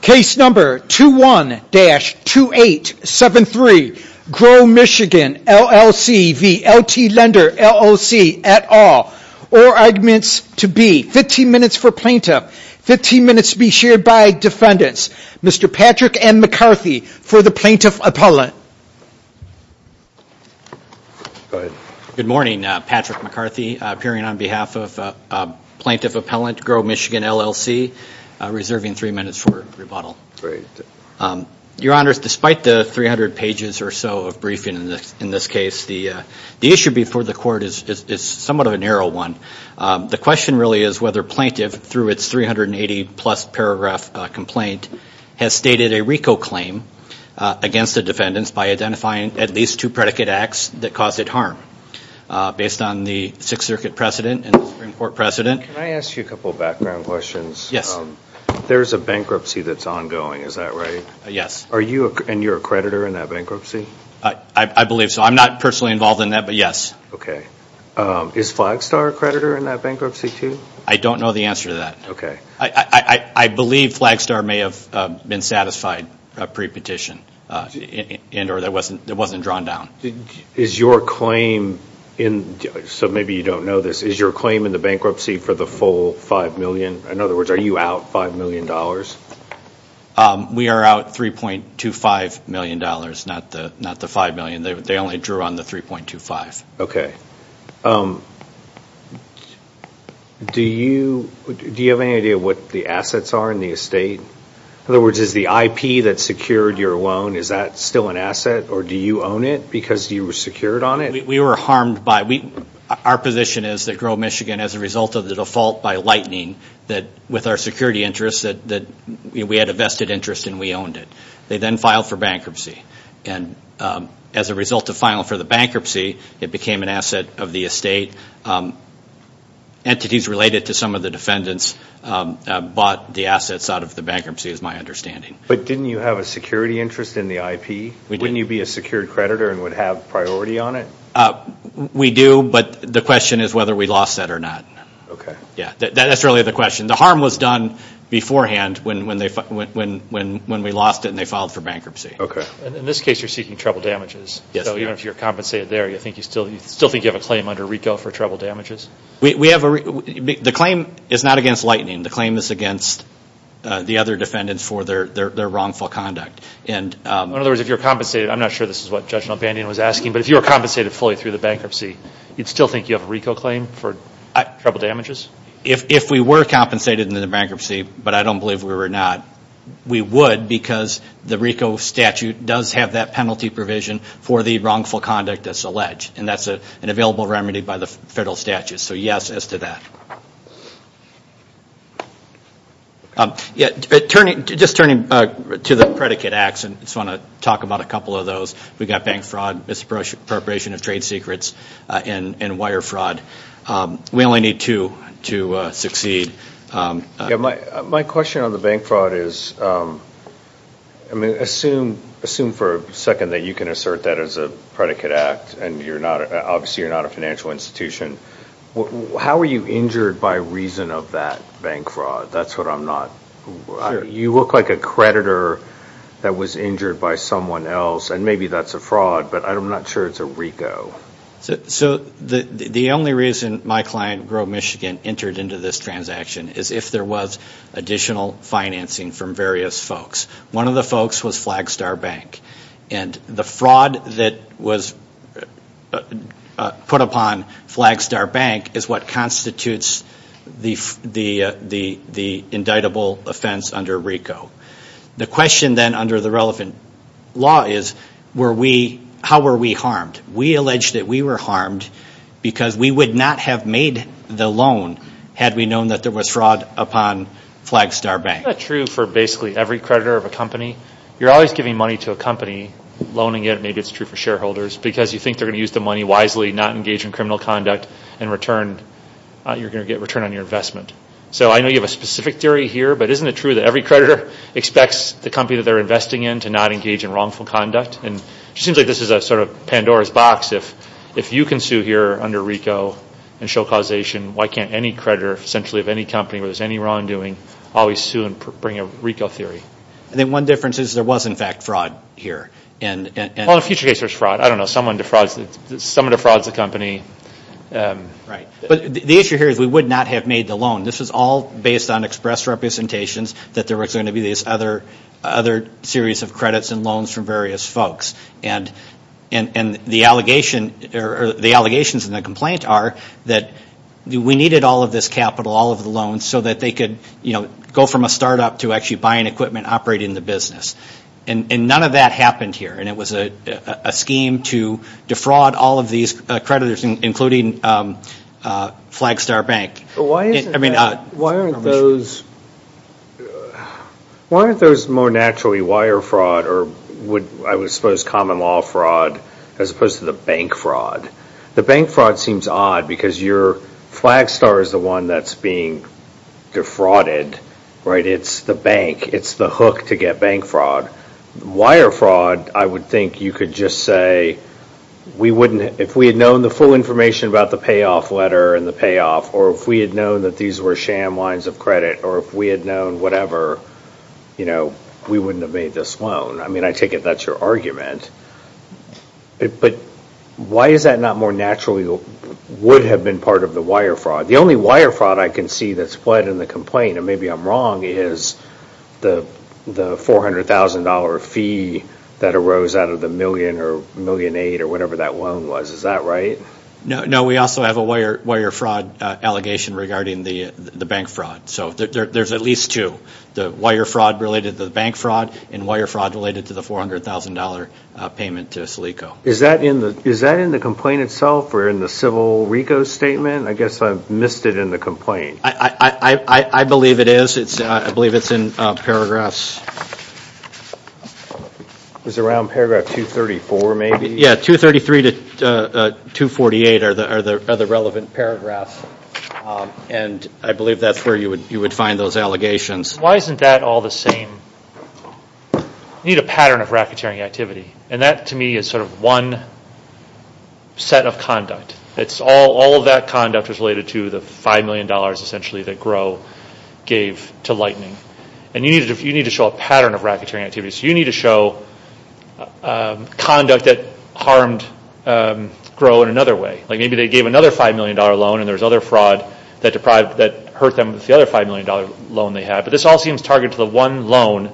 Case number 21-2873 Grow Michigan LLC v. LT Lender LLC et al. Or arguments to be 15 minutes for plaintiff, 15 minutes to be shared by defendants. Mr. Patrick and McCarthy for the Plaintiff Appellant. Good morning, Patrick McCarthy, appearing on behalf of Plaintiff Appellant, Grow Michigan LLC, reserving three minutes for rebuttal. Your Honors, despite the 300 pages or so of briefing in this case, the issue before the court is somewhat of a narrow one. The question really is whether plaintiff, through its 380 plus paragraph complaint, has stated a RICO claim against a defendant. Can I ask you a couple background questions? Yes. There's a bankruptcy that's ongoing, is that right? Yes. And you're a creditor in that bankruptcy? I believe so. I'm not personally involved in that, but yes. Okay. Is Flagstar a creditor in that bankruptcy, too? I don't know the answer to that. Okay. I believe Flagstar may have been satisfied pre-petition in that case. Is your claim in the bankruptcy for the full $5 million? In other words, are you out $5 million? We are out $3.25 million, not the $5 million. They only drew on the $3.25. Okay. Do you have any idea what the assets are in the estate? In other words, is the IP that secured your loan, is that still an asset? Or do you own it because you were secured on it? We were harmed by it. Our position is that Grow Michigan, as a result of the default by Lightning, that with our security interests, that we had a vested interest and we owned it. They then filed for bankruptcy. And as a result of filing for the bankruptcy, it became an asset of the estate. Entities related to some of the defendants bought the assets out of the bankruptcy, is my understanding. But didn't you have a security interest in the IP? Wouldn't you be a secured creditor and would have priority on it? We do, but the question is whether we lost that or not. That's really the question. The harm was done beforehand when we lost it and they filed for bankruptcy. Okay. In this case, you're seeking treble damages. Yes. So even if you're compensated there, you still think you have a claim under RICO for treble damages? The claim is not against Lightning. The claim is against the other defendants for their wrongful conduct. In other words, if you're compensated, I'm not sure this is what Judge Nalbandian was asking, but if you were compensated fully through the bankruptcy, you'd still think you have a RICO claim for treble damages? If we were compensated in the bankruptcy, but I don't believe we were not, we would because the RICO statute does have that penalty provision for the wrongful conduct that's alleged. And that's an available remedy by the federal statute. So yes as to that. Just turning to the predicate acts, I just want to talk about a couple of those. We've got bank fraud, misappropriation of trade secrets, and wire fraud. We only need two to succeed. My question on the bank fraud is, I mean, assume for a second that you can assert that as a predicate act and obviously you're not a financial institution. How were you injured by reason of that bank fraud? That's what I'm not. You look like a creditor that was injured by someone else and maybe that's a fraud, but I'm not sure it's a RICO. So the only reason my client, Grow Michigan, entered into this transaction is if there was additional financing from various folks. One of the folks was Flagstar Bank and the fraud that was put upon Flagstar Bank is what constitutes the indictable offense under RICO. The question then under the relevant law is how were we harmed? We allege that we were harmed because we would not have made the loan had we known that there was fraud upon Flagstar Bank. Isn't that true for basically every creditor of a company? You're always giving money to a company, loaning it, maybe it's true for shareholders, because you think they're going to use the money wisely, not engage in criminal conduct, and you're going to get return on your investment. So I know you have a specific theory here, but isn't it true that every creditor expects the company that they're investing in to not engage in wrongful conduct? And it seems like this is a sort of Pandora's box. If you can sue here under RICO and show causation, why can't any creditor essentially of any company where there's any wrongdoing always sue and bring a RICO theory? And then one difference is there was in fact fraud here. Well, in a future case there's fraud. I don't know. Someone defrauds the company. But the issue here is we would not have made the loan. This was all based on express representations that there was going to be this other series of credits and loans from various folks. And the allegations in the complaint are that we needed all of this capital, all of the loans, so that they could go from a startup to actually buying equipment operating the business. And none of that happened here, and it was a scheme to defraud all of these creditors, including Flagstar Bank. Why aren't those more naturally wire fraud or I would suppose common law fraud as opposed to the bank fraud? The bank fraud seems odd because your Flagstar is the one that's being defrauded, right? It's the bank. It's the hook to get bank fraud. Wire fraud, I would think you could just say, if we had known the full information about the payoff letter and the payoff, or if we had known that these were sham lines of credit, or if we had known whatever, we wouldn't have made this loan. I mean, I take it that's your argument. But why is that not more naturally would have been part of the wire fraud? The only wire fraud I can see that's fled in the complaint, and maybe I'm wrong, is the $400,000 fee that arose out of the million or million aid or whatever that loan was. Is that right? No, we also have a wire fraud allegation regarding the bank fraud. So there's at least two, the wire fraud related to the bank fraud and wire fraud related to the $400,000 payment to Silico. Is that in the complaint itself or in the civil RICO statement? I guess I've missed it in the complaint. I believe it is. I believe it's in paragraphs. Is it around paragraph 234 maybe? Yeah, 233 to 248 are the relevant paragraphs. And I believe that's where you would find those allegations. Why isn't that all the same? You need a pattern of racketeering activity. And that to me is sort of one set of conduct. All of that conduct is related to the $5 million essentially that GRO gave to Lightning. And you need to show a pattern of racketeering activity. So you need to show conduct that harmed GRO in another way. Like maybe they gave another $5 million loan and there was other fraud that hurt them with the other $5 million loan they had. But this all seems targeted to the one loan.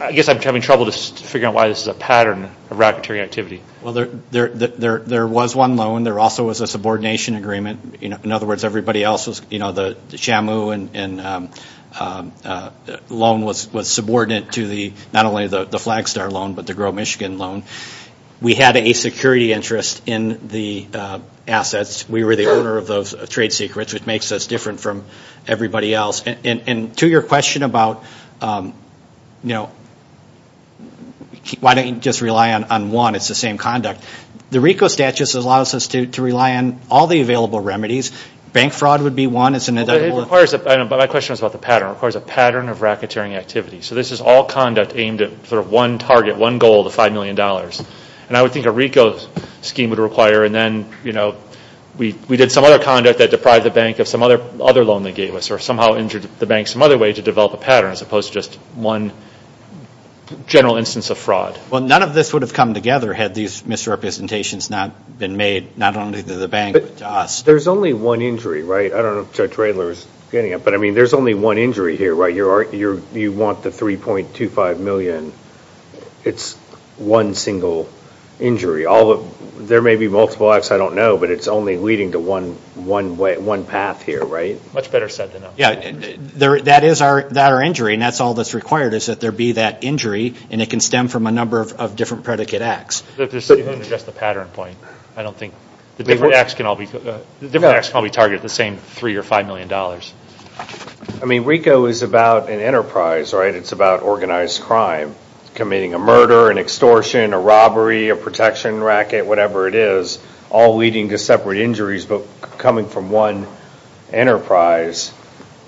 I guess I'm having trouble figuring out why this is a pattern of racketeering activity. Well, there was one loan. There also was a subordination agreement. In other words, everybody else, the Shamu loan was subordinate to not only the Flagstar loan but the GRO Michigan loan. We had a security interest in the assets. We were the owner of those trade secrets, which makes us different from everybody else. To your question about why don't you just rely on one, it's the same conduct. The RICO statute allows us to rely on all the available remedies. Bank fraud would be one. My question was about the pattern. It requires a pattern of racketeering activity. So this is all conduct aimed at one target, one goal of the $5 million. And I would think a RICO scheme would require and then we did some other conduct that deprived the bank of some other loan they gave us or somehow injured the bank some other way to develop a pattern as opposed to just one general instance of fraud. Well, none of this would have come together had these misrepresentations not been made, not only to the bank but to us. There's only one injury, right? I don't know if Judge Radler is getting it. But I mean, there's only one injury here, right? You want the $3.25 million. It's one single injury. There may be multiple acts. I don't know. But it's only leading to one path here, right? Much better said than done. That is our injury and that's all that's required is that there be that injury and it can stem from a number of different predicate acts. Just to address the pattern point, I don't think the different acts can all be targeted at the same $3 or $5 million. I mean, RICO is about an enterprise, right? It's about organized crime. Committing a murder, an extortion, a robbery, a protection racket, whatever it is, all leading to separate injuries but coming from one enterprise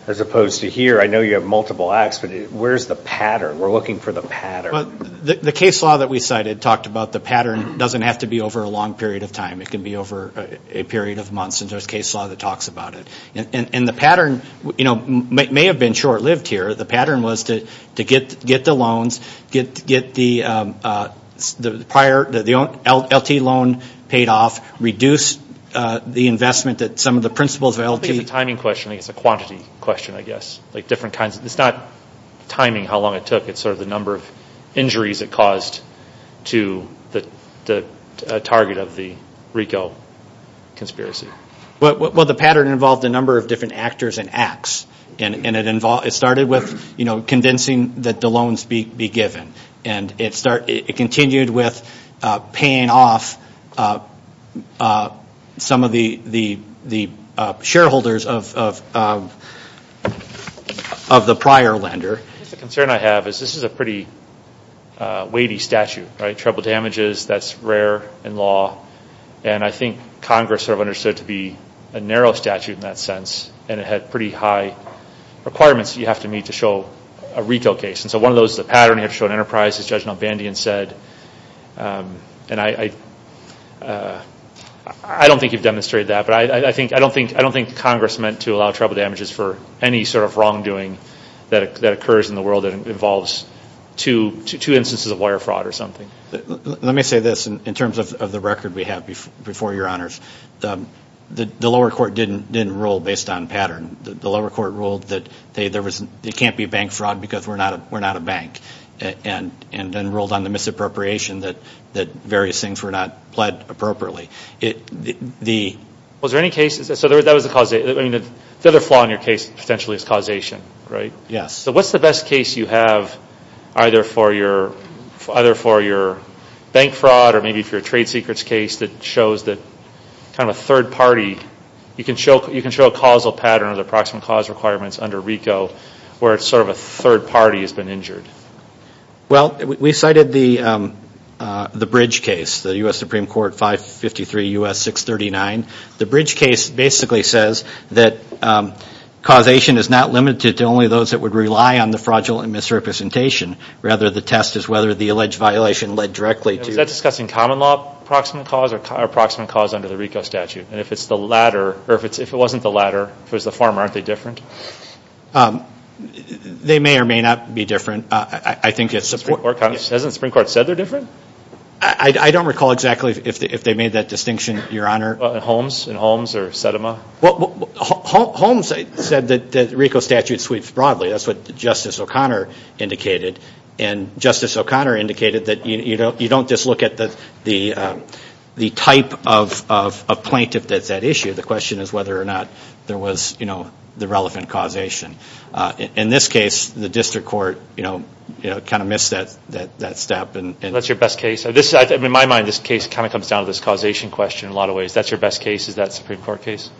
as opposed to here. I know you have multiple acts but where's the pattern? We're looking for the pattern. The case law that we cited talked about the pattern doesn't have to be over a long period of time. It can be over a period of months and there's case law that talks about it. And the pattern may have been short-lived here. The pattern was to get the loans, get the LTE loan paid off, reduce the investment that some of the principles of LTE... I think it's a timing question. I think it's a quantity question, I guess. It's not timing how long it took. It's sort of the number of injuries it caused to the target of the RICO conspiracy. Well, the pattern involved a number of different actors and acts. And it started with convincing that the loans be given. And it continued with paying off some of the shareholders of the prior lender. The concern I have is this is a pretty weighty statute, right? And I think Congress sort of understood it to be a narrow statute in that sense. And it had pretty high requirements that you have to meet to show a RICO case. And so one of those is a pattern. You have to show an enterprise, as Judge Van Dien said. And I don't think you've demonstrated that. But I don't think Congress meant to allow trouble damages for any sort of wrongdoing that occurs in the world that involves two instances of wire fraud or something. Let me say this in terms of the record we have before Your Honors. The lower court didn't rule based on pattern. The lower court ruled that there can't be bank fraud because we're not a bank. And then ruled on the misappropriation that various things were not pled appropriately. Was there any cases? So that was the causation. The other flaw in your case potentially is causation, right? Yes. So what's the best case you have either for your bank fraud or maybe for your trade secrets case that shows that kind of a third party. You can show a causal pattern or the approximate cause requirements under RICO where it's sort of a third party has been injured. Well, we cited the bridge case, the U.S. Supreme Court 553 U.S. 639. The bridge case basically says that causation is not limited to only those that would rely on the fraudulent misrepresentation. Rather the test is whether the alleged violation led directly to. Is that discussing common law approximate cause or approximate cause under the RICO statute? And if it's the latter or if it wasn't the latter, if it was the former, aren't they different? They may or may not be different. I think it's. Hasn't the Supreme Court said they're different? I don't recall exactly if they made that distinction, Your Honor. Holmes or Sedema? Well, Holmes said that the RICO statute sweeps broadly. That's what Justice O'Connor indicated. And Justice O'Connor indicated that you don't just look at the type of plaintiff that's at issue. The question is whether or not there was, you know, the relevant causation. In this case, the district court, you know, kind of missed that step. That's your best case? In my mind, this case kind of comes down to this causation question in a lot of ways. That's your best case? Is that a Supreme Court case?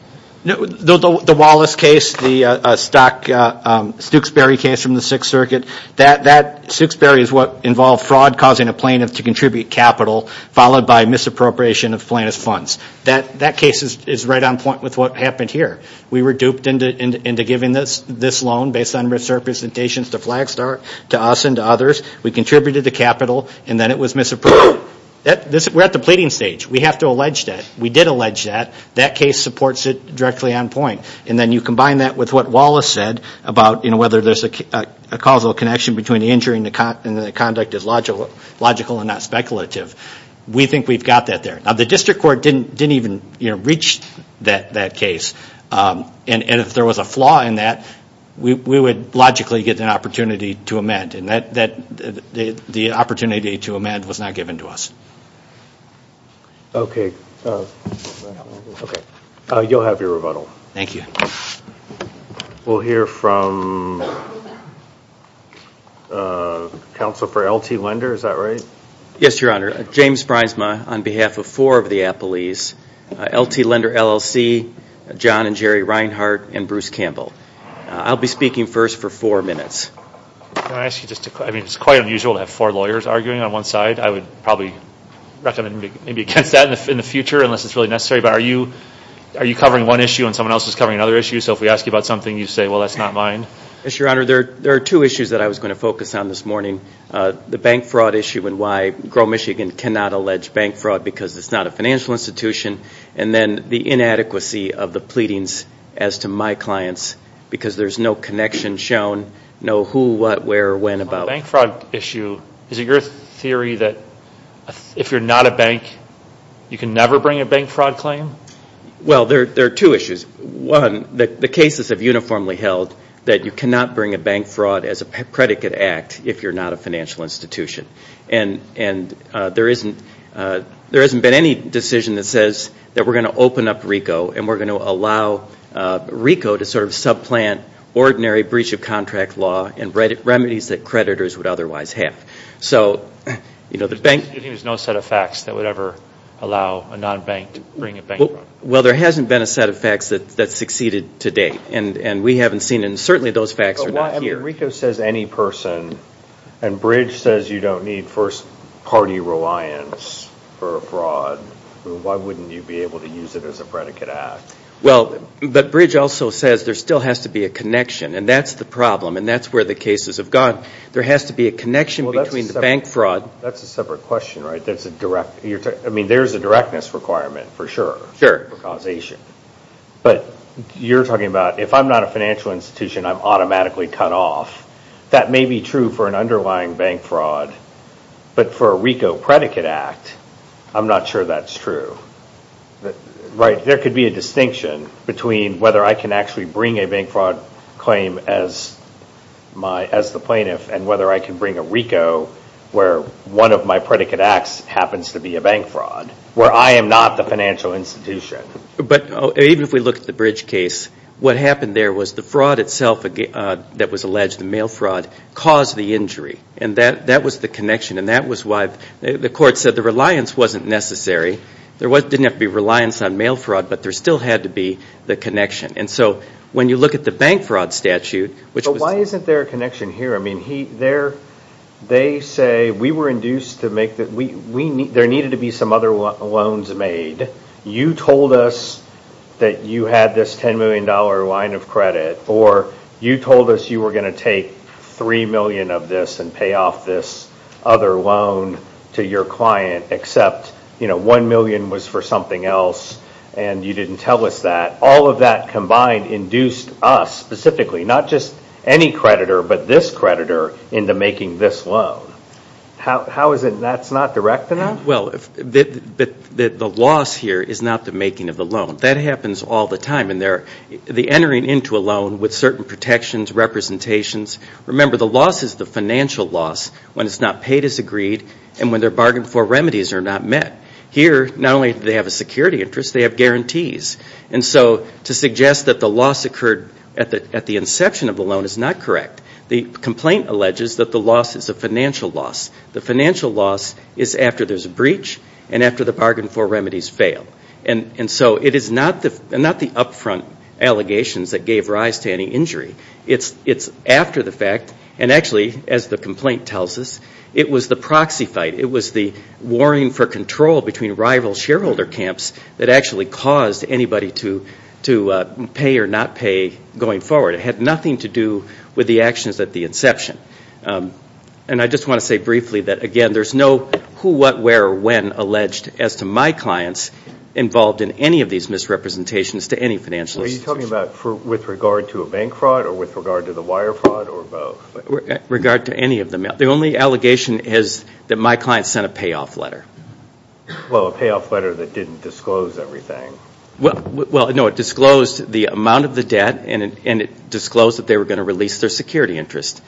No. The Wallace case, the Stock, Stooksbury case from the Sixth Circuit, that Stooksbury is what involved fraud causing a plaintiff to contribute capital followed by misappropriation of plaintiff's funds. That case is right on point with what happened here. We were duped into giving this loan based on misrepresentations to Flagstar, to us and to others. We contributed the capital and then it was misapproved. We're at the pleading stage. We have to allege that. We did allege that. That case supports it directly on point. And then you combine that with what Wallace said about, you know, whether there's a causal connection between the injury and the conduct is logical and not speculative. We think we've got that there. Now, the district court didn't even, you know, reach that case. And if there was a flaw in that, we would logically get an opportunity to amend. And that, the opportunity to amend was not given to us. Okay. Okay. You'll have your rebuttal. Thank you. We'll hear from counsel for LT Lender. Is that right? Yes, Your Honor. James Pryzma on behalf of four of the appellees, LT Lender LLC, John and Jerry Reinhart, and Bruce Campbell. I'll be speaking first for four minutes. Can I ask you just to, I mean, it's quite unusual to have four lawyers arguing on one side. I would probably recommend maybe against that in the future unless it's really necessary. But are you, are you covering one issue and someone else is covering another issue? So if we ask you about something, you say, well, that's not mine. Yes, Your Honor. There are two issues that I was going to focus on this morning. The bank fraud issue and why Grow Michigan cannot allege bank fraud because it's not a financial institution. And then the inadequacy of the pleadings as to my clients because there's no connection shown, no who, what, where, when about. On the bank fraud issue, is it your theory that if you're not a bank, you can never bring a bank fraud claim? Well, there are two issues. One, the cases have uniformly held that you cannot bring a bank fraud as a predicate act if you're not a financial institution. And there isn't, there hasn't been any decision that says that we're going to open up RICO and we're going to allow RICO to sort of subplant ordinary breach of contract law and remedies that creditors would otherwise have. So, you know, the bank. You're saying there's no set of facts that would ever allow a non-bank to bring a bank fraud? Well, there hasn't been a set of facts that succeeded to date. And we haven't seen, and certainly those facts are not here. But why, I mean, RICO says any person. And Bridge says you don't need first party reliance for a fraud. Why wouldn't you be able to use it as a predicate act? Well, but Bridge also says there still has to be a connection. And that's the problem. And that's where the cases have gone. There has to be a connection between the bank fraud. Well, that's a separate question, right? I mean, there's a directness requirement for sure. Sure. For causation. But you're talking about if I'm not a financial institution, I'm automatically cut off. That may be true for an underlying bank fraud. But for a RICO predicate act, I'm not sure that's true. Right? There could be a distinction between whether I can actually bring a bank fraud claim as the plaintiff and whether I can bring a RICO where one of my predicate acts happens to be a bank fraud, where I am not the financial institution. But even if we look at the Bridge case, what happened there was the fraud itself that was alleged, the mail fraud, caused the injury. And that was the connection. And that was why the court said the reliance wasn't necessary. There didn't have to be reliance on mail fraud, but there still had to be the connection. And so when you look at the bank fraud statute, which was... But why isn't there a connection here? I mean, they say we were induced to make the... There needed to be some other loans made. You told us that you had this $10 million line of credit or you told us you were going to take $3 million of this and pay off this other loan to your client, except $1 million was for something else and you didn't tell us that. All of that combined induced us specifically, not just any creditor, but this creditor into making this loan. How is it that's not direct enough? Well, the loss here is not the making of the loan. I mean, the entering into a loan with certain protections, representations. Remember, the loss is the financial loss when it's not paid as agreed and when their bargain for remedies are not met. Here, not only do they have a security interest, they have guarantees. And so to suggest that the loss occurred at the inception of the loan is not correct. The complaint alleges that the loss is a financial loss. The financial loss is after there's a breach and after the bargain for remedies fail. And so it is not the upfront allegations that gave rise to any injury. It's after the fact, and actually, as the complaint tells us, it was the proxy fight. It was the warring for control between rival shareholder camps that actually caused anybody to pay or not pay going forward. It had nothing to do with the actions at the inception. And I just want to say briefly that, again, there's no who, what, where, or when alleged as to my clients involved in any of these misrepresentations to any financial institution. Are you talking about with regard to a bank fraud or with regard to the wire fraud or both? With regard to any of them. The only allegation is that my client sent a payoff letter. Well, a payoff letter that didn't disclose everything. Well, no, it disclosed the amount of the debt and it disclosed that they were going to release their security interest.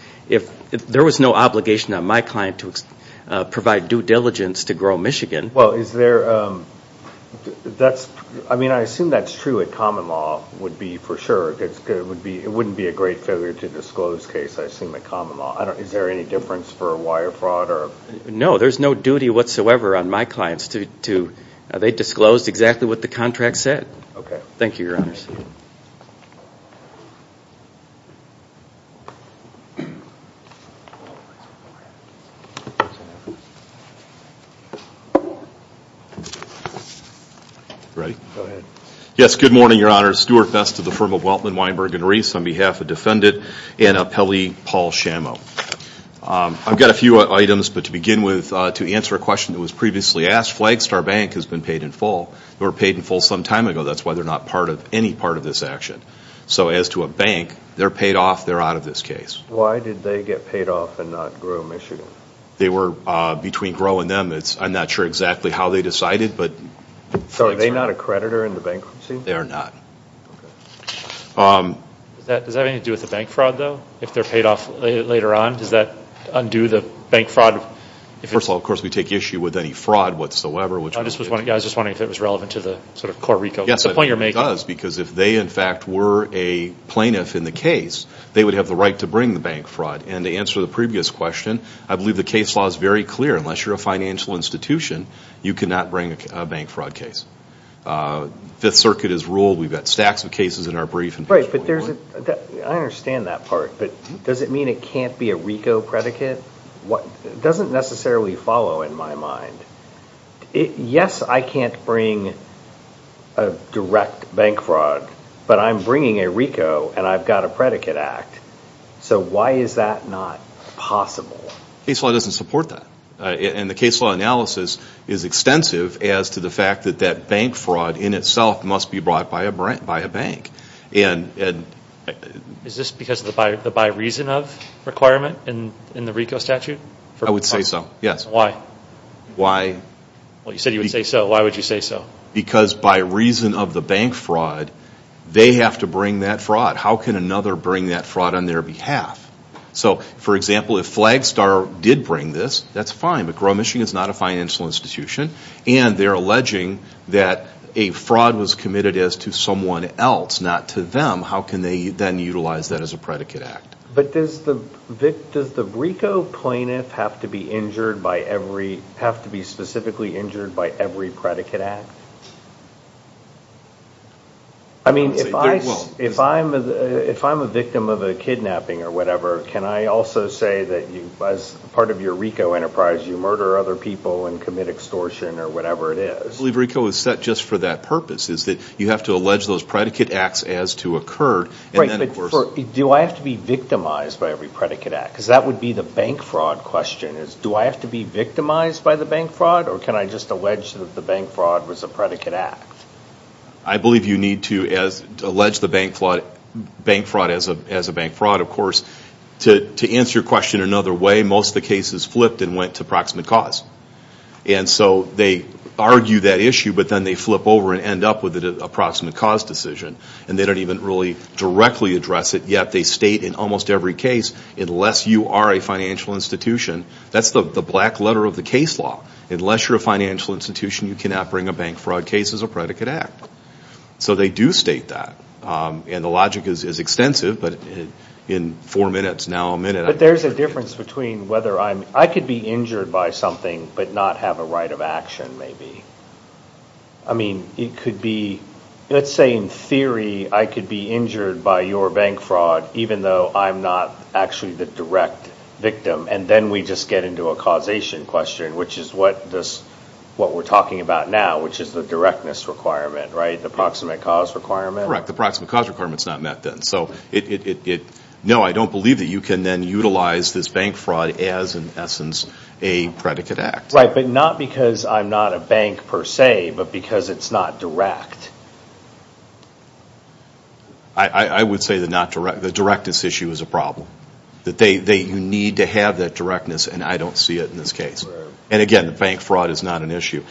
There was no obligation on my client to provide due diligence to Grow Michigan. Well, I assume that's true at Common Law would be for sure. It wouldn't be a great failure to disclose case, I assume, at Common Law. Is there any difference for a wire fraud? No, there's no duty whatsoever on my clients. They disclosed exactly what the contract said. Thank you, Your Honors. Thank you. Ready? Go ahead. Yes, good morning, Your Honors. Stuart Best of the firm of Weltman, Weinberg, and Reese on behalf of Defendant Anna Pelle, Paul Schamo. I've got a few items, but to begin with, to answer a question that was previously asked, Flagstar Bank has been paid in full. They were paid in full some time ago. That's why they're not part of any part of this action. So as to a bank, they're paid off. They're out of this case. Why did they get paid off and not Grow Michigan? Between Grow and them, I'm not sure exactly how they decided. So are they not a creditor in the bankruptcy? They are not. Does that have anything to do with the bank fraud, though? If they're paid off later on, does that undo the bank fraud? First of all, of course, we take issue with any fraud whatsoever. I was just wondering if it was relevant to the core RICO. Yes, it does. Because if they, in fact, were a plaintiff in the case, they would have the right to bring the bank fraud. And to answer the previous question, I believe the case law is very clear. Unless you're a financial institution, you cannot bring a bank fraud case. Fifth Circuit has ruled. We've got stacks of cases in our brief. Right, but I understand that part. But does it mean it can't be a RICO predicate? It doesn't necessarily follow in my mind. Yes, I can't bring a direct bank fraud. But I'm bringing a RICO, and I've got a predicate act. So why is that not possible? Case law doesn't support that. And the case law analysis is extensive as to the fact that that bank fraud in itself must be brought by a bank. Is this because of the by reason of requirement in the RICO statute? I would say so, yes. Why? Well, you said you would say so. Why would you say so? Because by reason of the bank fraud, they have to bring that fraud. How can another bring that fraud on their behalf? So, for example, if Flagstar did bring this, that's fine. But Grow Michigan is not a financial institution. And they're alleging that a fraud was committed as to someone else, not to them. How can they then utilize that as a predicate act? But does the RICO plaintiff have to be injured by every, have to be specifically injured by every predicate act? I mean, if I'm a victim of a kidnapping or whatever, can I also say that as part of your RICO enterprise, you murder other people and commit extortion or whatever it is? I believe RICO is set just for that purpose, is that you have to allege those predicate acts as to occur. Right, but do I have to be victimized by every predicate act? Because that would be the bank fraud question, is do I have to be victimized by the bank fraud? Or can I just allege that the bank fraud was a predicate act? I believe you need to allege the bank fraud as a bank fraud, of course. To answer your question another way, most of the cases flipped and went to proximate cause. And so they argue that issue, but then they flip over and end up with an approximate cause decision. And they don't even really directly address it, yet they state in almost every case, unless you are a financial institution, that's the black letter of the case law. Unless you're a financial institution, you cannot bring a bank fraud case as a predicate act. So they do state that. And the logic is extensive, but in four minutes, now a minute... But there's a difference between whether I'm... I could be injured by something but not have a right of action, maybe. I mean, it could be... Let's say, in theory, I could be injured by your bank fraud, even though I'm not actually the direct victim. And then we just get into a causation question, which is what we're talking about now, which is the directness requirement, right? The proximate cause requirement? Correct. The proximate cause requirement's not met then. So, no, I don't believe that you can then utilize this bank fraud as, in essence, a predicate act. Right, but not because I'm not a bank per se, but because it's not direct. I would say the directness issue is a problem. You need to have that directness, and I don't see it in this case. And again, bank fraud is not an issue.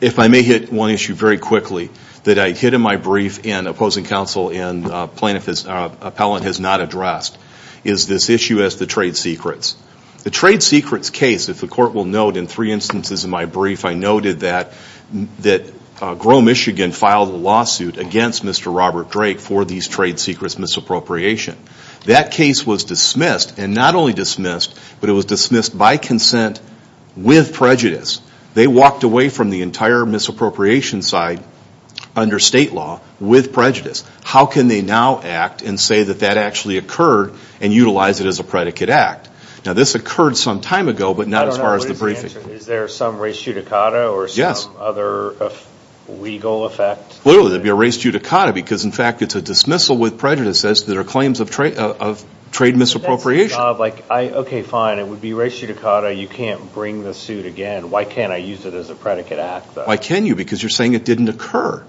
If I may hit one issue very quickly that I hit in my brief in opposing counsel and plaintiff's appellant has not addressed is this issue as to trade secrets. The trade secrets case, if the court will note, in three instances in my brief, I noted that Grow Michigan filed a lawsuit against Mr. Robert Drake for these trade secrets misappropriation. That case was dismissed, and not only dismissed, but it was dismissed by consent with prejudice. They walked away from the entire misappropriation side under state law with prejudice. How can they now act and say that that actually occurred and utilize it as a predicate act? Now, this occurred some time ago, but not as far as the briefing. Is there some res judicata or some other legal effect? Clearly, there'd be a res judicata because, in fact, it's a dismissal with prejudice as to their claims of trade misappropriation. Okay, fine. It would be res judicata. You can't bring the suit again. Why can't I use it as a predicate act, though? Why can't you? Because you're saying it didn't occur.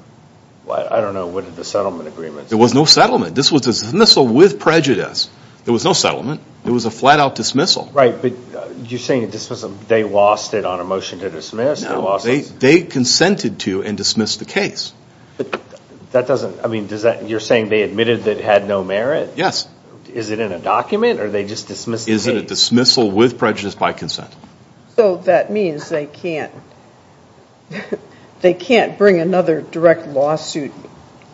I don't know. What are the settlement agreements? There was no settlement. This was a dismissal with prejudice. There was no settlement. It was a flat-out dismissal. Right, but you're saying a dismissal. They lost it on a motion to dismiss. No, they consented to and dismissed the case. But that doesn't... I mean, you're saying they admitted that it had no merit? Yes. Is it in a document, or they just dismissed the case? Is it a dismissal with prejudice by consent? So that means they can't bring another direct lawsuit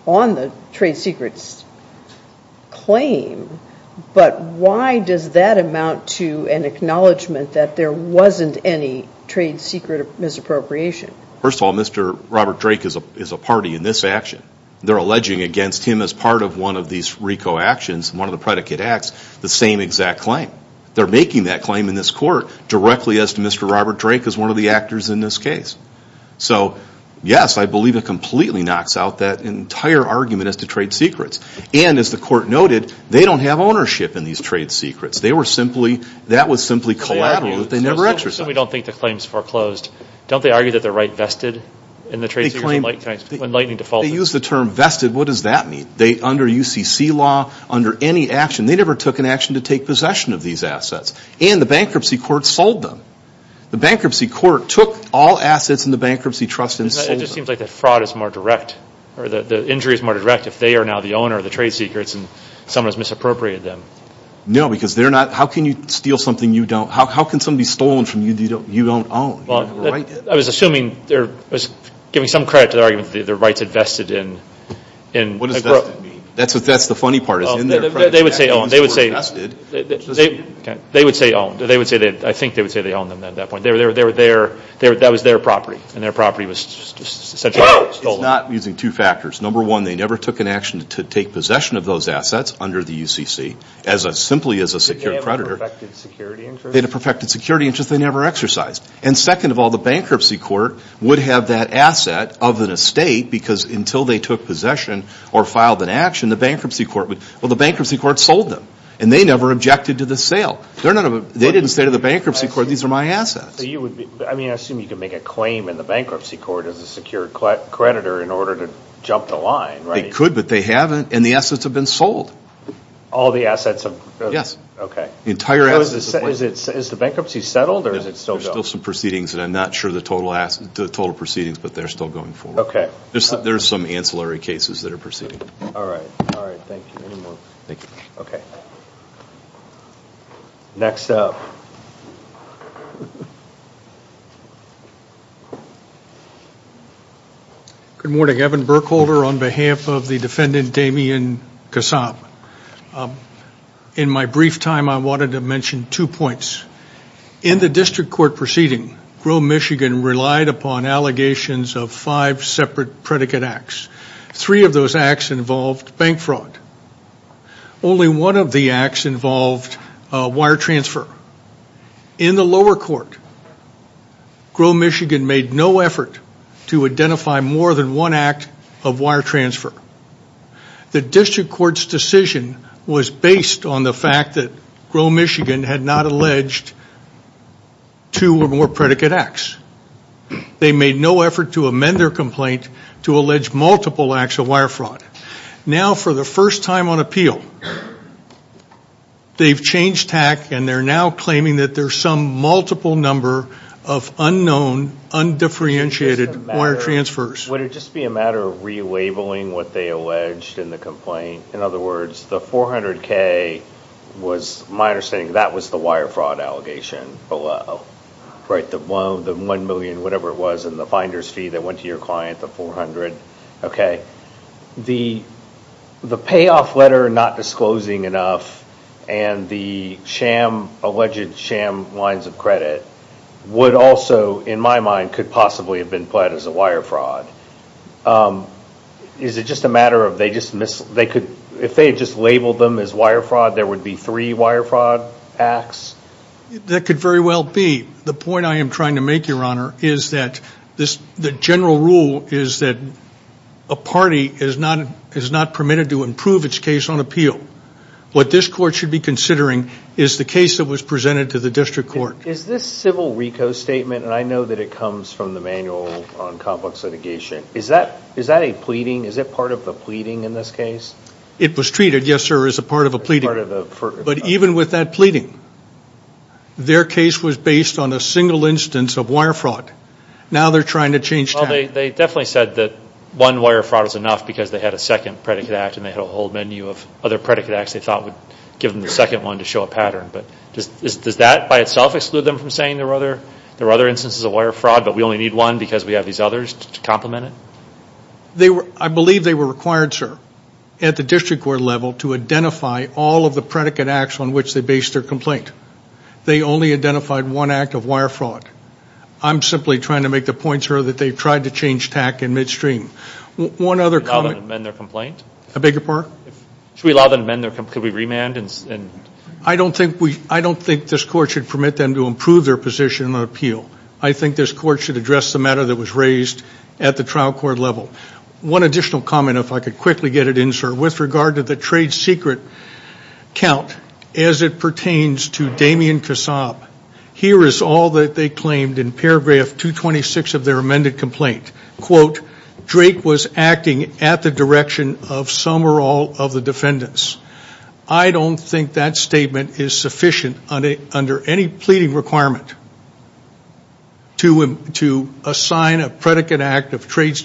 on the trade secrets claim, but why does that amount to an acknowledgment that there wasn't any trade secret misappropriation? First of all, Mr. Robert Drake is a party in this action. They're alleging against him as part of one of these RICO actions, one of the predicate acts, the same exact claim. They're making that claim in this court directly as to Mr. Robert Drake as one of the actors in this case. So, yes, I believe it completely knocks out that entire argument as to trade secrets. And, as the court noted, they don't have ownership in these trade secrets. That was simply collateral that they never exercised. So we don't think the claim's foreclosed. Don't they argue that they're right vested in the trade secrets? They claim... Enlightening default. They use the term vested. What does that mean? Under UCC law, under any action, they never took an action to take possession of these assets. And the bankruptcy court sold them. The bankruptcy court took all assets in the bankruptcy trust and sold them. It just seems like the fraud is more direct, or the injury is more direct, if they are now the owner of the trade secrets and someone has misappropriated them. No, because they're not... How can you steal something you don't... How can something be stolen from you that you don't own? I was assuming... I was giving some credit to the argument that their rights are vested in... What does vested mean? That's the funny part. They would say owned. They would say owned. I think they would say they owned them at that point. That was their property. And their property was essentially stolen. It's not using two factors. Number one, they never took an action to take possession of those assets under the UCC, simply as a secure creditor. Did they have a perfected security interest? They had a perfected security interest. They never exercised. And second of all, the bankruptcy court would have that asset of an estate because until they took possession or filed an action, the bankruptcy court would... Well, the bankruptcy court sold them. And they never objected to the sale. They didn't say to the bankruptcy court, these are my assets. I mean, I assume you could make a claim in the bankruptcy court as a secure creditor in order to jump the line, right? They could, but they haven't. And the assets have been sold. All the assets have... Yes. Okay. Is the bankruptcy settled or is it still going? There's still some proceedings, and I'm not sure of the total proceedings, but they're still going forward. Okay. There's some ancillary cases that are proceeding. All right. All right. Thank you. Okay. Next up. Good morning. Evan Burkholder on behalf of the defendant Damian Kassab. In my brief time, I wanted to mention two points. In the district court proceeding, Grove, Michigan relied upon allegations of five separate predicate acts. Three of those acts involved bank fraud. Only one of the acts involved wire transfer. In the lower court, Grove, Michigan made no effort to identify more than one act of wire transfer. The district court's decision was based on the fact that Grove, Michigan had not alleged two or more predicate acts. They made no effort to amend their complaint to allege multiple acts of wire fraud. Now, for the first time on appeal, they've changed tack and they're now claiming that there's some multiple number of unknown, undifferentiated wire transfers. Would it just be a matter of relabeling what they alleged in the complaint? In other words, the 400K was, my understanding, that was the wire fraud allegation below. Right, the one million, whatever it was, and the finder's fee that went to your client, the 400. Okay. The payoff letter not disclosing enough and the sham, alleged sham lines of credit, would also, in my mind, could possibly have been pled as a wire fraud. Is it just a matter of they just missed, if they had just labeled them as wire fraud, there would be three wire fraud acts? That could very well be. The point I am trying to make, Your Honor, is that the general rule is that a party is not permitted to improve its case on appeal. What this court should be considering is the case that was presented to the district court. Is this civil RICO statement, and I know that it comes from the manual on complex litigation, is that a pleading? Is it part of the pleading in this case? It was treated, yes, sir, as a part of a pleading. But even with that pleading, their case was based on a single instance of wire fraud. Now they are trying to change that. They definitely said that one wire fraud was enough because they had a second predicate act and they had a whole menu of other predicate acts they thought would give them the second one to show a pattern. Does that by itself exclude them from saying there are other instances of wire fraud but we only need one because we have these others to complement it? I believe they were required, sir, at the district court level to identify all of the predicate acts on which they based their complaint. They only identified one act of wire fraud. I'm simply trying to make the point, sir, that they tried to change TAC in midstream. One other comment... Should we allow them to amend their complaint? A bigger part? Should we allow them to amend their complaint? Could we remand? I don't think this court should permit them to improve their position on appeal. I think this court should address the matter that was raised at the trial court level. One additional comment, if I could quickly get it in, sir, with regard to the trade secret count as it pertains to Damien Kassab. Here is all that they claimed in paragraph 226 of their amended complaint. Quote, Drake was acting at the direction of some or all of the defendants. I don't think that statement is sufficient under any pleading requirement to assign a predicate act of trade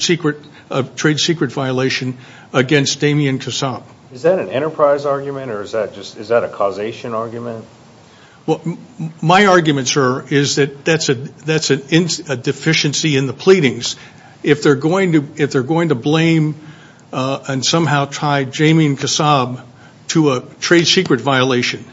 secret violation against Damien Kassab. Is that an enterprise argument, or is that a causation argument? Well, my argument, sir, is that that's a deficiency in the pleadings. If they're going to blame and somehow tie Damien Kassab to a trade secret violation,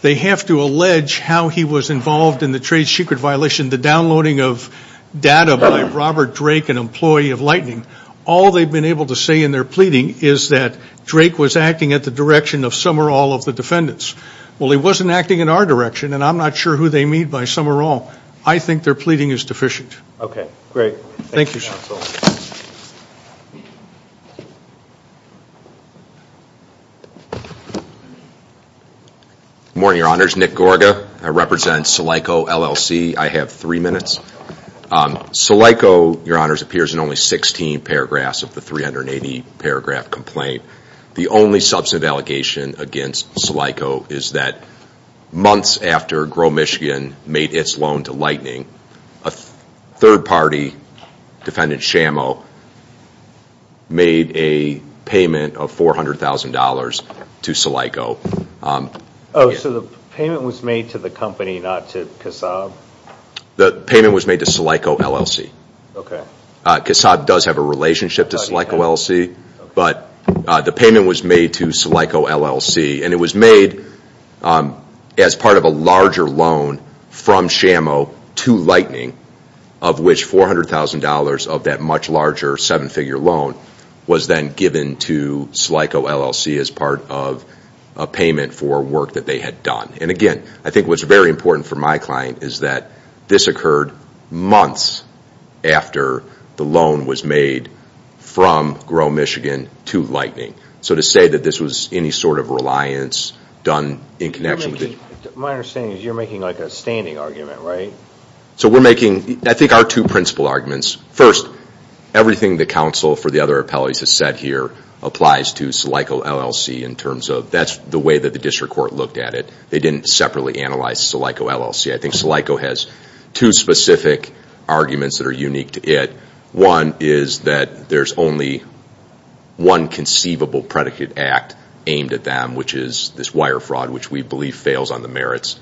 they have to allege how he was involved in the trade secret violation, the downloading of data by Robert Drake, an employee of Lightning. All they've been able to say in their pleading is that Drake was acting at the direction of some or all of the defendants. Well, he wasn't acting in our direction, and I'm not sure who they mean by some or all. I think their pleading is deficient. Okay, great. Thank you, sir. Thank you, counsel. Good morning, Your Honors. Nick Gorga. I represent SILICO, LLC. I have three minutes. SILICO, Your Honors, appears in only 16 paragraphs of the 380-paragraph complaint. The only substantive allegation against SILICO is that months after Grow Michigan made its loan to Lightning, a third-party defendant, Shamo, made a payment of $400,000 to SILICO. Oh, so the payment was made to the company, not to Kassab? The payment was made to SILICO, LLC. Kassab does have a relationship to SILICO, LLC, but the payment was made to SILICO, LLC, and it was made as part of a larger loan from Shamo to Lightning, of which $400,000 of that much larger seven-figure loan was then given to SILICO, LLC as part of a payment for work that they had done. And again, I think what's very important for my client is that this occurred months after the loan was made from Grow Michigan to Lightning. So to say that this was any sort of reliance done in connection with it... My understanding is you're making like a standing argument, right? So we're making, I think, our two principal arguments. First, everything the counsel for the other appellees has said here applies to SILICO, LLC in terms of that's the way that the district court looked at it. They didn't separately analyze SILICO, LLC. I think SILICO has two specific arguments that are unique to it. One is that there's only one conceivable predicate act aimed at them, which is this wire fraud, which we believe fails on the merits.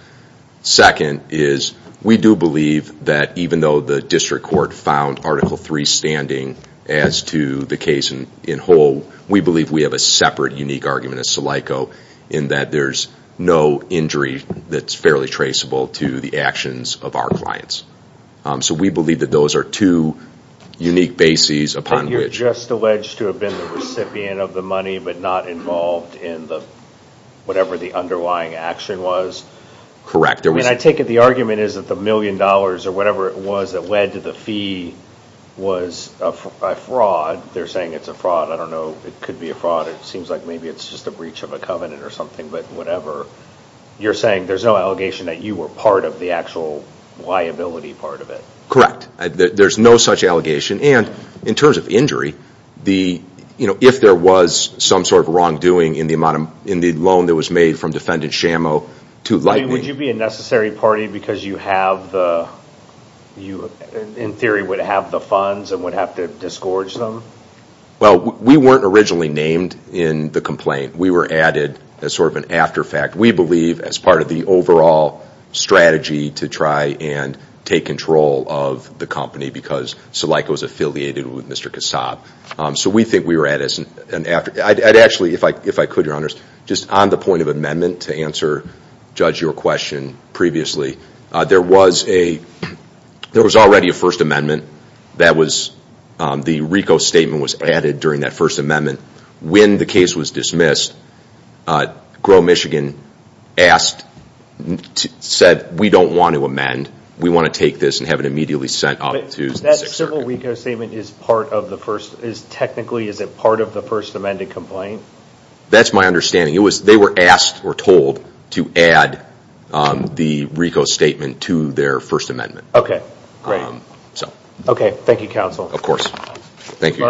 Second is we do believe that even though the district court found Article III standing as to the case in whole, we believe we have a separate unique argument at SILICO in that there's no injury that's fairly traceable to the actions of our clients. So we believe that those are two unique bases upon which... You're just alleged to have been the recipient of the money but not involved in whatever the underlying action was? Correct. And I take it the argument is that the million dollars or whatever it was that led to the fee was a fraud. They're saying it's a fraud. I don't know. It could be a fraud. It seems like maybe it's just a breach of a covenant or something, but whatever. You're saying there's no allegation that you were part of the actual liability part of it? Correct. There's no such allegation. And in terms of injury, if there was some sort of wrongdoing in the loan that was made from defendant Shamo to Lightning... Would you be a necessary party because you have the... you, in theory, would have the funds and would have to disgorge them? Well, we weren't originally named in the complaint. We were added as sort of an after-fact, we believe, as part of the overall strategy to try and take control of the company because Salika was affiliated with Mr. Kassab. So we think we were added as an after... I'd actually, if I could, Your Honors, just on the point of amendment to answer Judge, your question previously. There was already a First Amendment. The RICO statement was added during that First Amendment. When the case was dismissed, Grow Michigan said, we don't want to amend, we want to take this and have it immediately sent off to the Sixth Circuit. That civil RICO statement is part of the first... technically, is it part of the First Amendment complaint? That's my understanding. They were asked or told to add the RICO statement to their First Amendment. Okay, great. Okay, thank you, counsel. Of course. Thank you.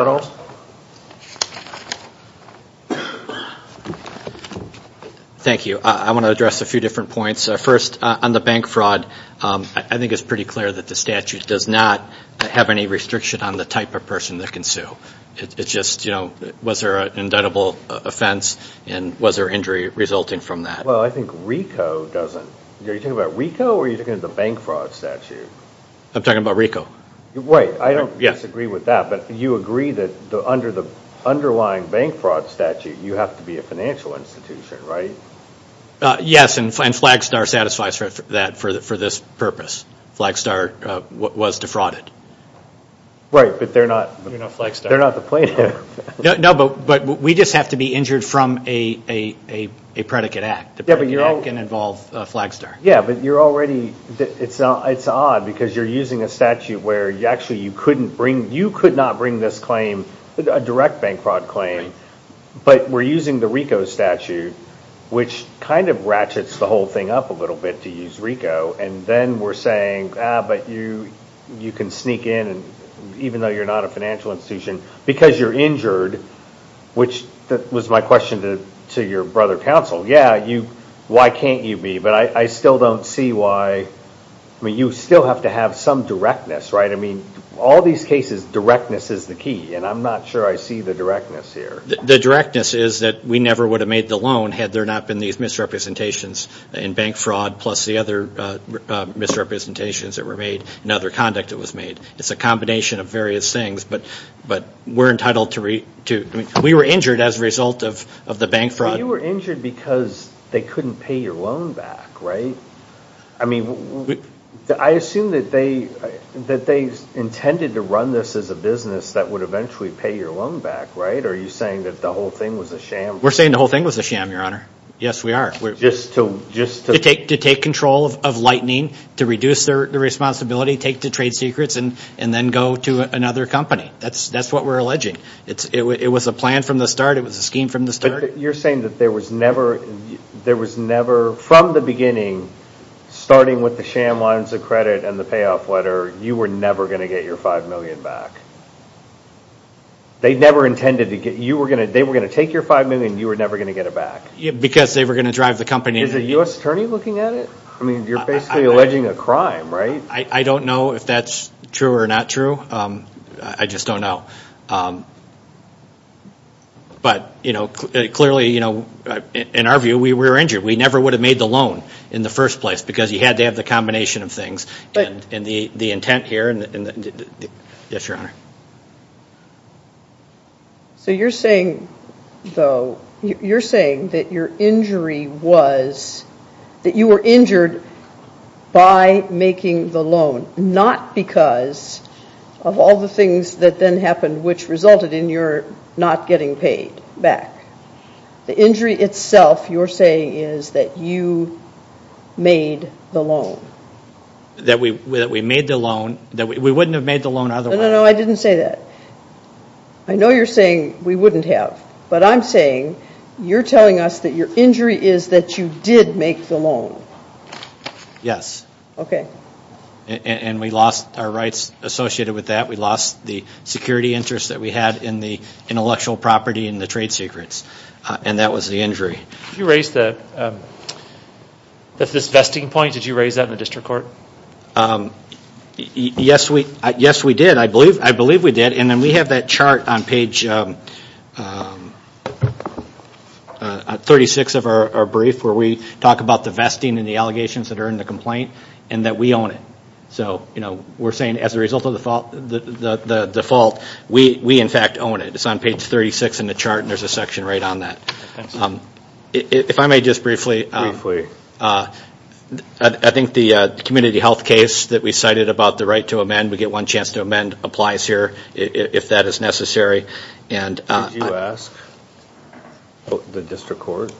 Thank you. I want to address a few different points. First, on the bank fraud, I think it's pretty clear that the statute does not have any restriction on the type of person that can sue. It's just, you know, was there an indictable offense and was there injury resulting from that? Well, I think RICO doesn't... Are you talking about RICO or are you talking about the bank fraud statute? I'm talking about RICO. Wait, I don't disagree with that, but you agree that under the underlying bank fraud statute, you have to be a financial institution, right? Yes, and Flagstar satisfies that for this purpose. Flagstar was defrauded. Right, but they're not the plaintiff. No, but we just have to be injured from a predicate act. The predicate act can involve Flagstar. Yeah, but you're already... You could not bring this claim, a direct bank fraud claim, but we're using the RICO statute, which kind of ratchets the whole thing up a little bit to use RICO, and then we're saying, ah, but you can sneak in, even though you're not a financial institution, because you're injured, which was my question to your brother counsel. Yeah, why can't you be? But I still don't see why... I mean, you still have to have some directness, right? I mean, all these cases, directness is the key, and I'm not sure I see the directness here. The directness is that we never would have made the loan had there not been these misrepresentations in bank fraud, plus the other misrepresentations that were made and other conduct that was made. It's a combination of various things, but we're entitled to... We were injured as a result of the bank fraud. You were injured because they couldn't pay your loan back, right? I mean, I assume that they intended to run this as a business that would eventually pay your loan back, right? Are you saying that the whole thing was a sham? We're saying the whole thing was a sham, Your Honor. Yes, we are. Just to... To take control of Lightning, to reduce their responsibility, take the trade secrets, and then go to another company. That's what we're alleging. It was a plan from the start. It was a scheme from the start. You're saying that there was never... From the beginning, starting with the sham lines of credit and the payoff letter, you were never going to get your $5 million back. They never intended to get... They were going to take your $5 million. You were never going to get it back. Because they were going to drive the company... Is a U.S. attorney looking at it? I mean, you're basically alleging a crime, right? I don't know if that's true or not true. I just don't know. But, you know, clearly, you know, in our view, we were injured. We never would have made the loan in the first place because you had to have the combination of things. But... And the intent here and the... Yes, Your Honor. So you're saying, though, you're saying that your injury was... That you were injured by making the loan, not because of all the things that then happened, which resulted in your not getting paid back. The injury itself, you're saying, is that you made the loan. That we made the loan. We wouldn't have made the loan otherwise. No, no, no, I didn't say that. I know you're saying we wouldn't have. But I'm saying you're telling us that your injury is that you did make the loan. Yes. Okay. And we lost our rights associated with that. We lost the security interests that we had in the intellectual property and the trade secrets. And that was the injury. Did you raise the... This vesting point, did you raise that in the district court? Yes, we did. I believe we did. And then we have that chart on page 36 of our brief where we talk about the vesting and the allegations that are in the complaint and that we own it. So we're saying as a result of the fault, we in fact own it. It's on page 36 in the chart and there's a section right on that. If I may just briefly... Briefly. I think the community health case that we cited about the right to amend, we get one chance to amend, applies here if that is necessary. Did you ask the district court?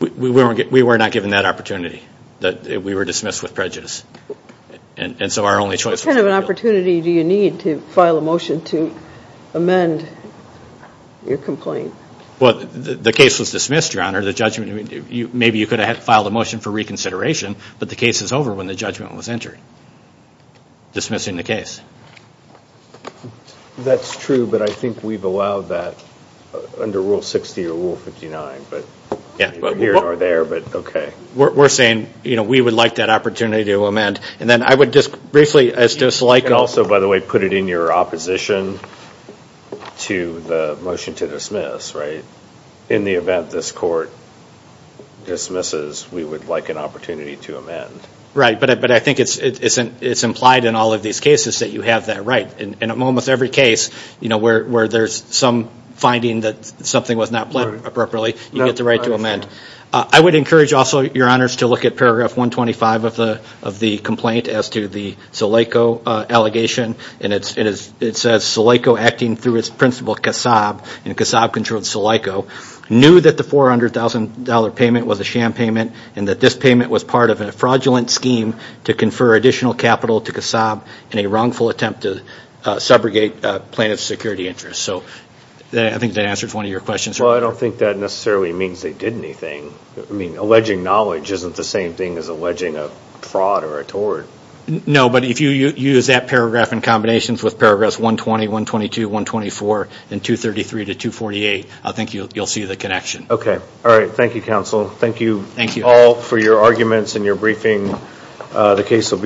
We were not given that opportunity. We were dismissed with prejudice. And so our only choice was to go. What kind of an opportunity do you need to file a motion to amend your complaint? Well, the case was dismissed, Your Honor. Maybe you could have filed a motion for reconsideration, but the case is over when the judgment was entered, dismissing the case. That's true, but I think we've allowed that under Rule 60 or Rule 59. The years are there, but okay. We're saying we would like that opportunity to amend. And then I would just briefly, as just like... You can also, by the way, put it in your opposition to the motion to dismiss, right? In the event this court dismisses, we would like an opportunity to amend. Right, but I think it's implied in all of these cases that you have that right. In almost every case where there's some finding that something was not planned appropriately, you get the right to amend. I would encourage also, Your Honors, to look at Paragraph 125 of the complaint as to the Salaico allegation. And it says, Salaico acting through its principal, Kassab, and Kassab controlled Salaico, knew that the $400,000 payment was a sham payment and that this payment was part of a fraudulent scheme to confer additional capital to Kassab in a wrongful attempt to subrogate plaintiff's security interests. So I think that answers one of your questions. Well, I don't think that necessarily means they did anything. I mean, alleging knowledge isn't the same thing as alleging a fraud or a tort. No, but if you use that paragraph in combinations with Paragraphs 120, 122, 124, and 233 to 248, I think you'll see the connection. Okay. All right. Thank you, Counsel. Thank you all for your arguments and your briefing. The case will be submitted.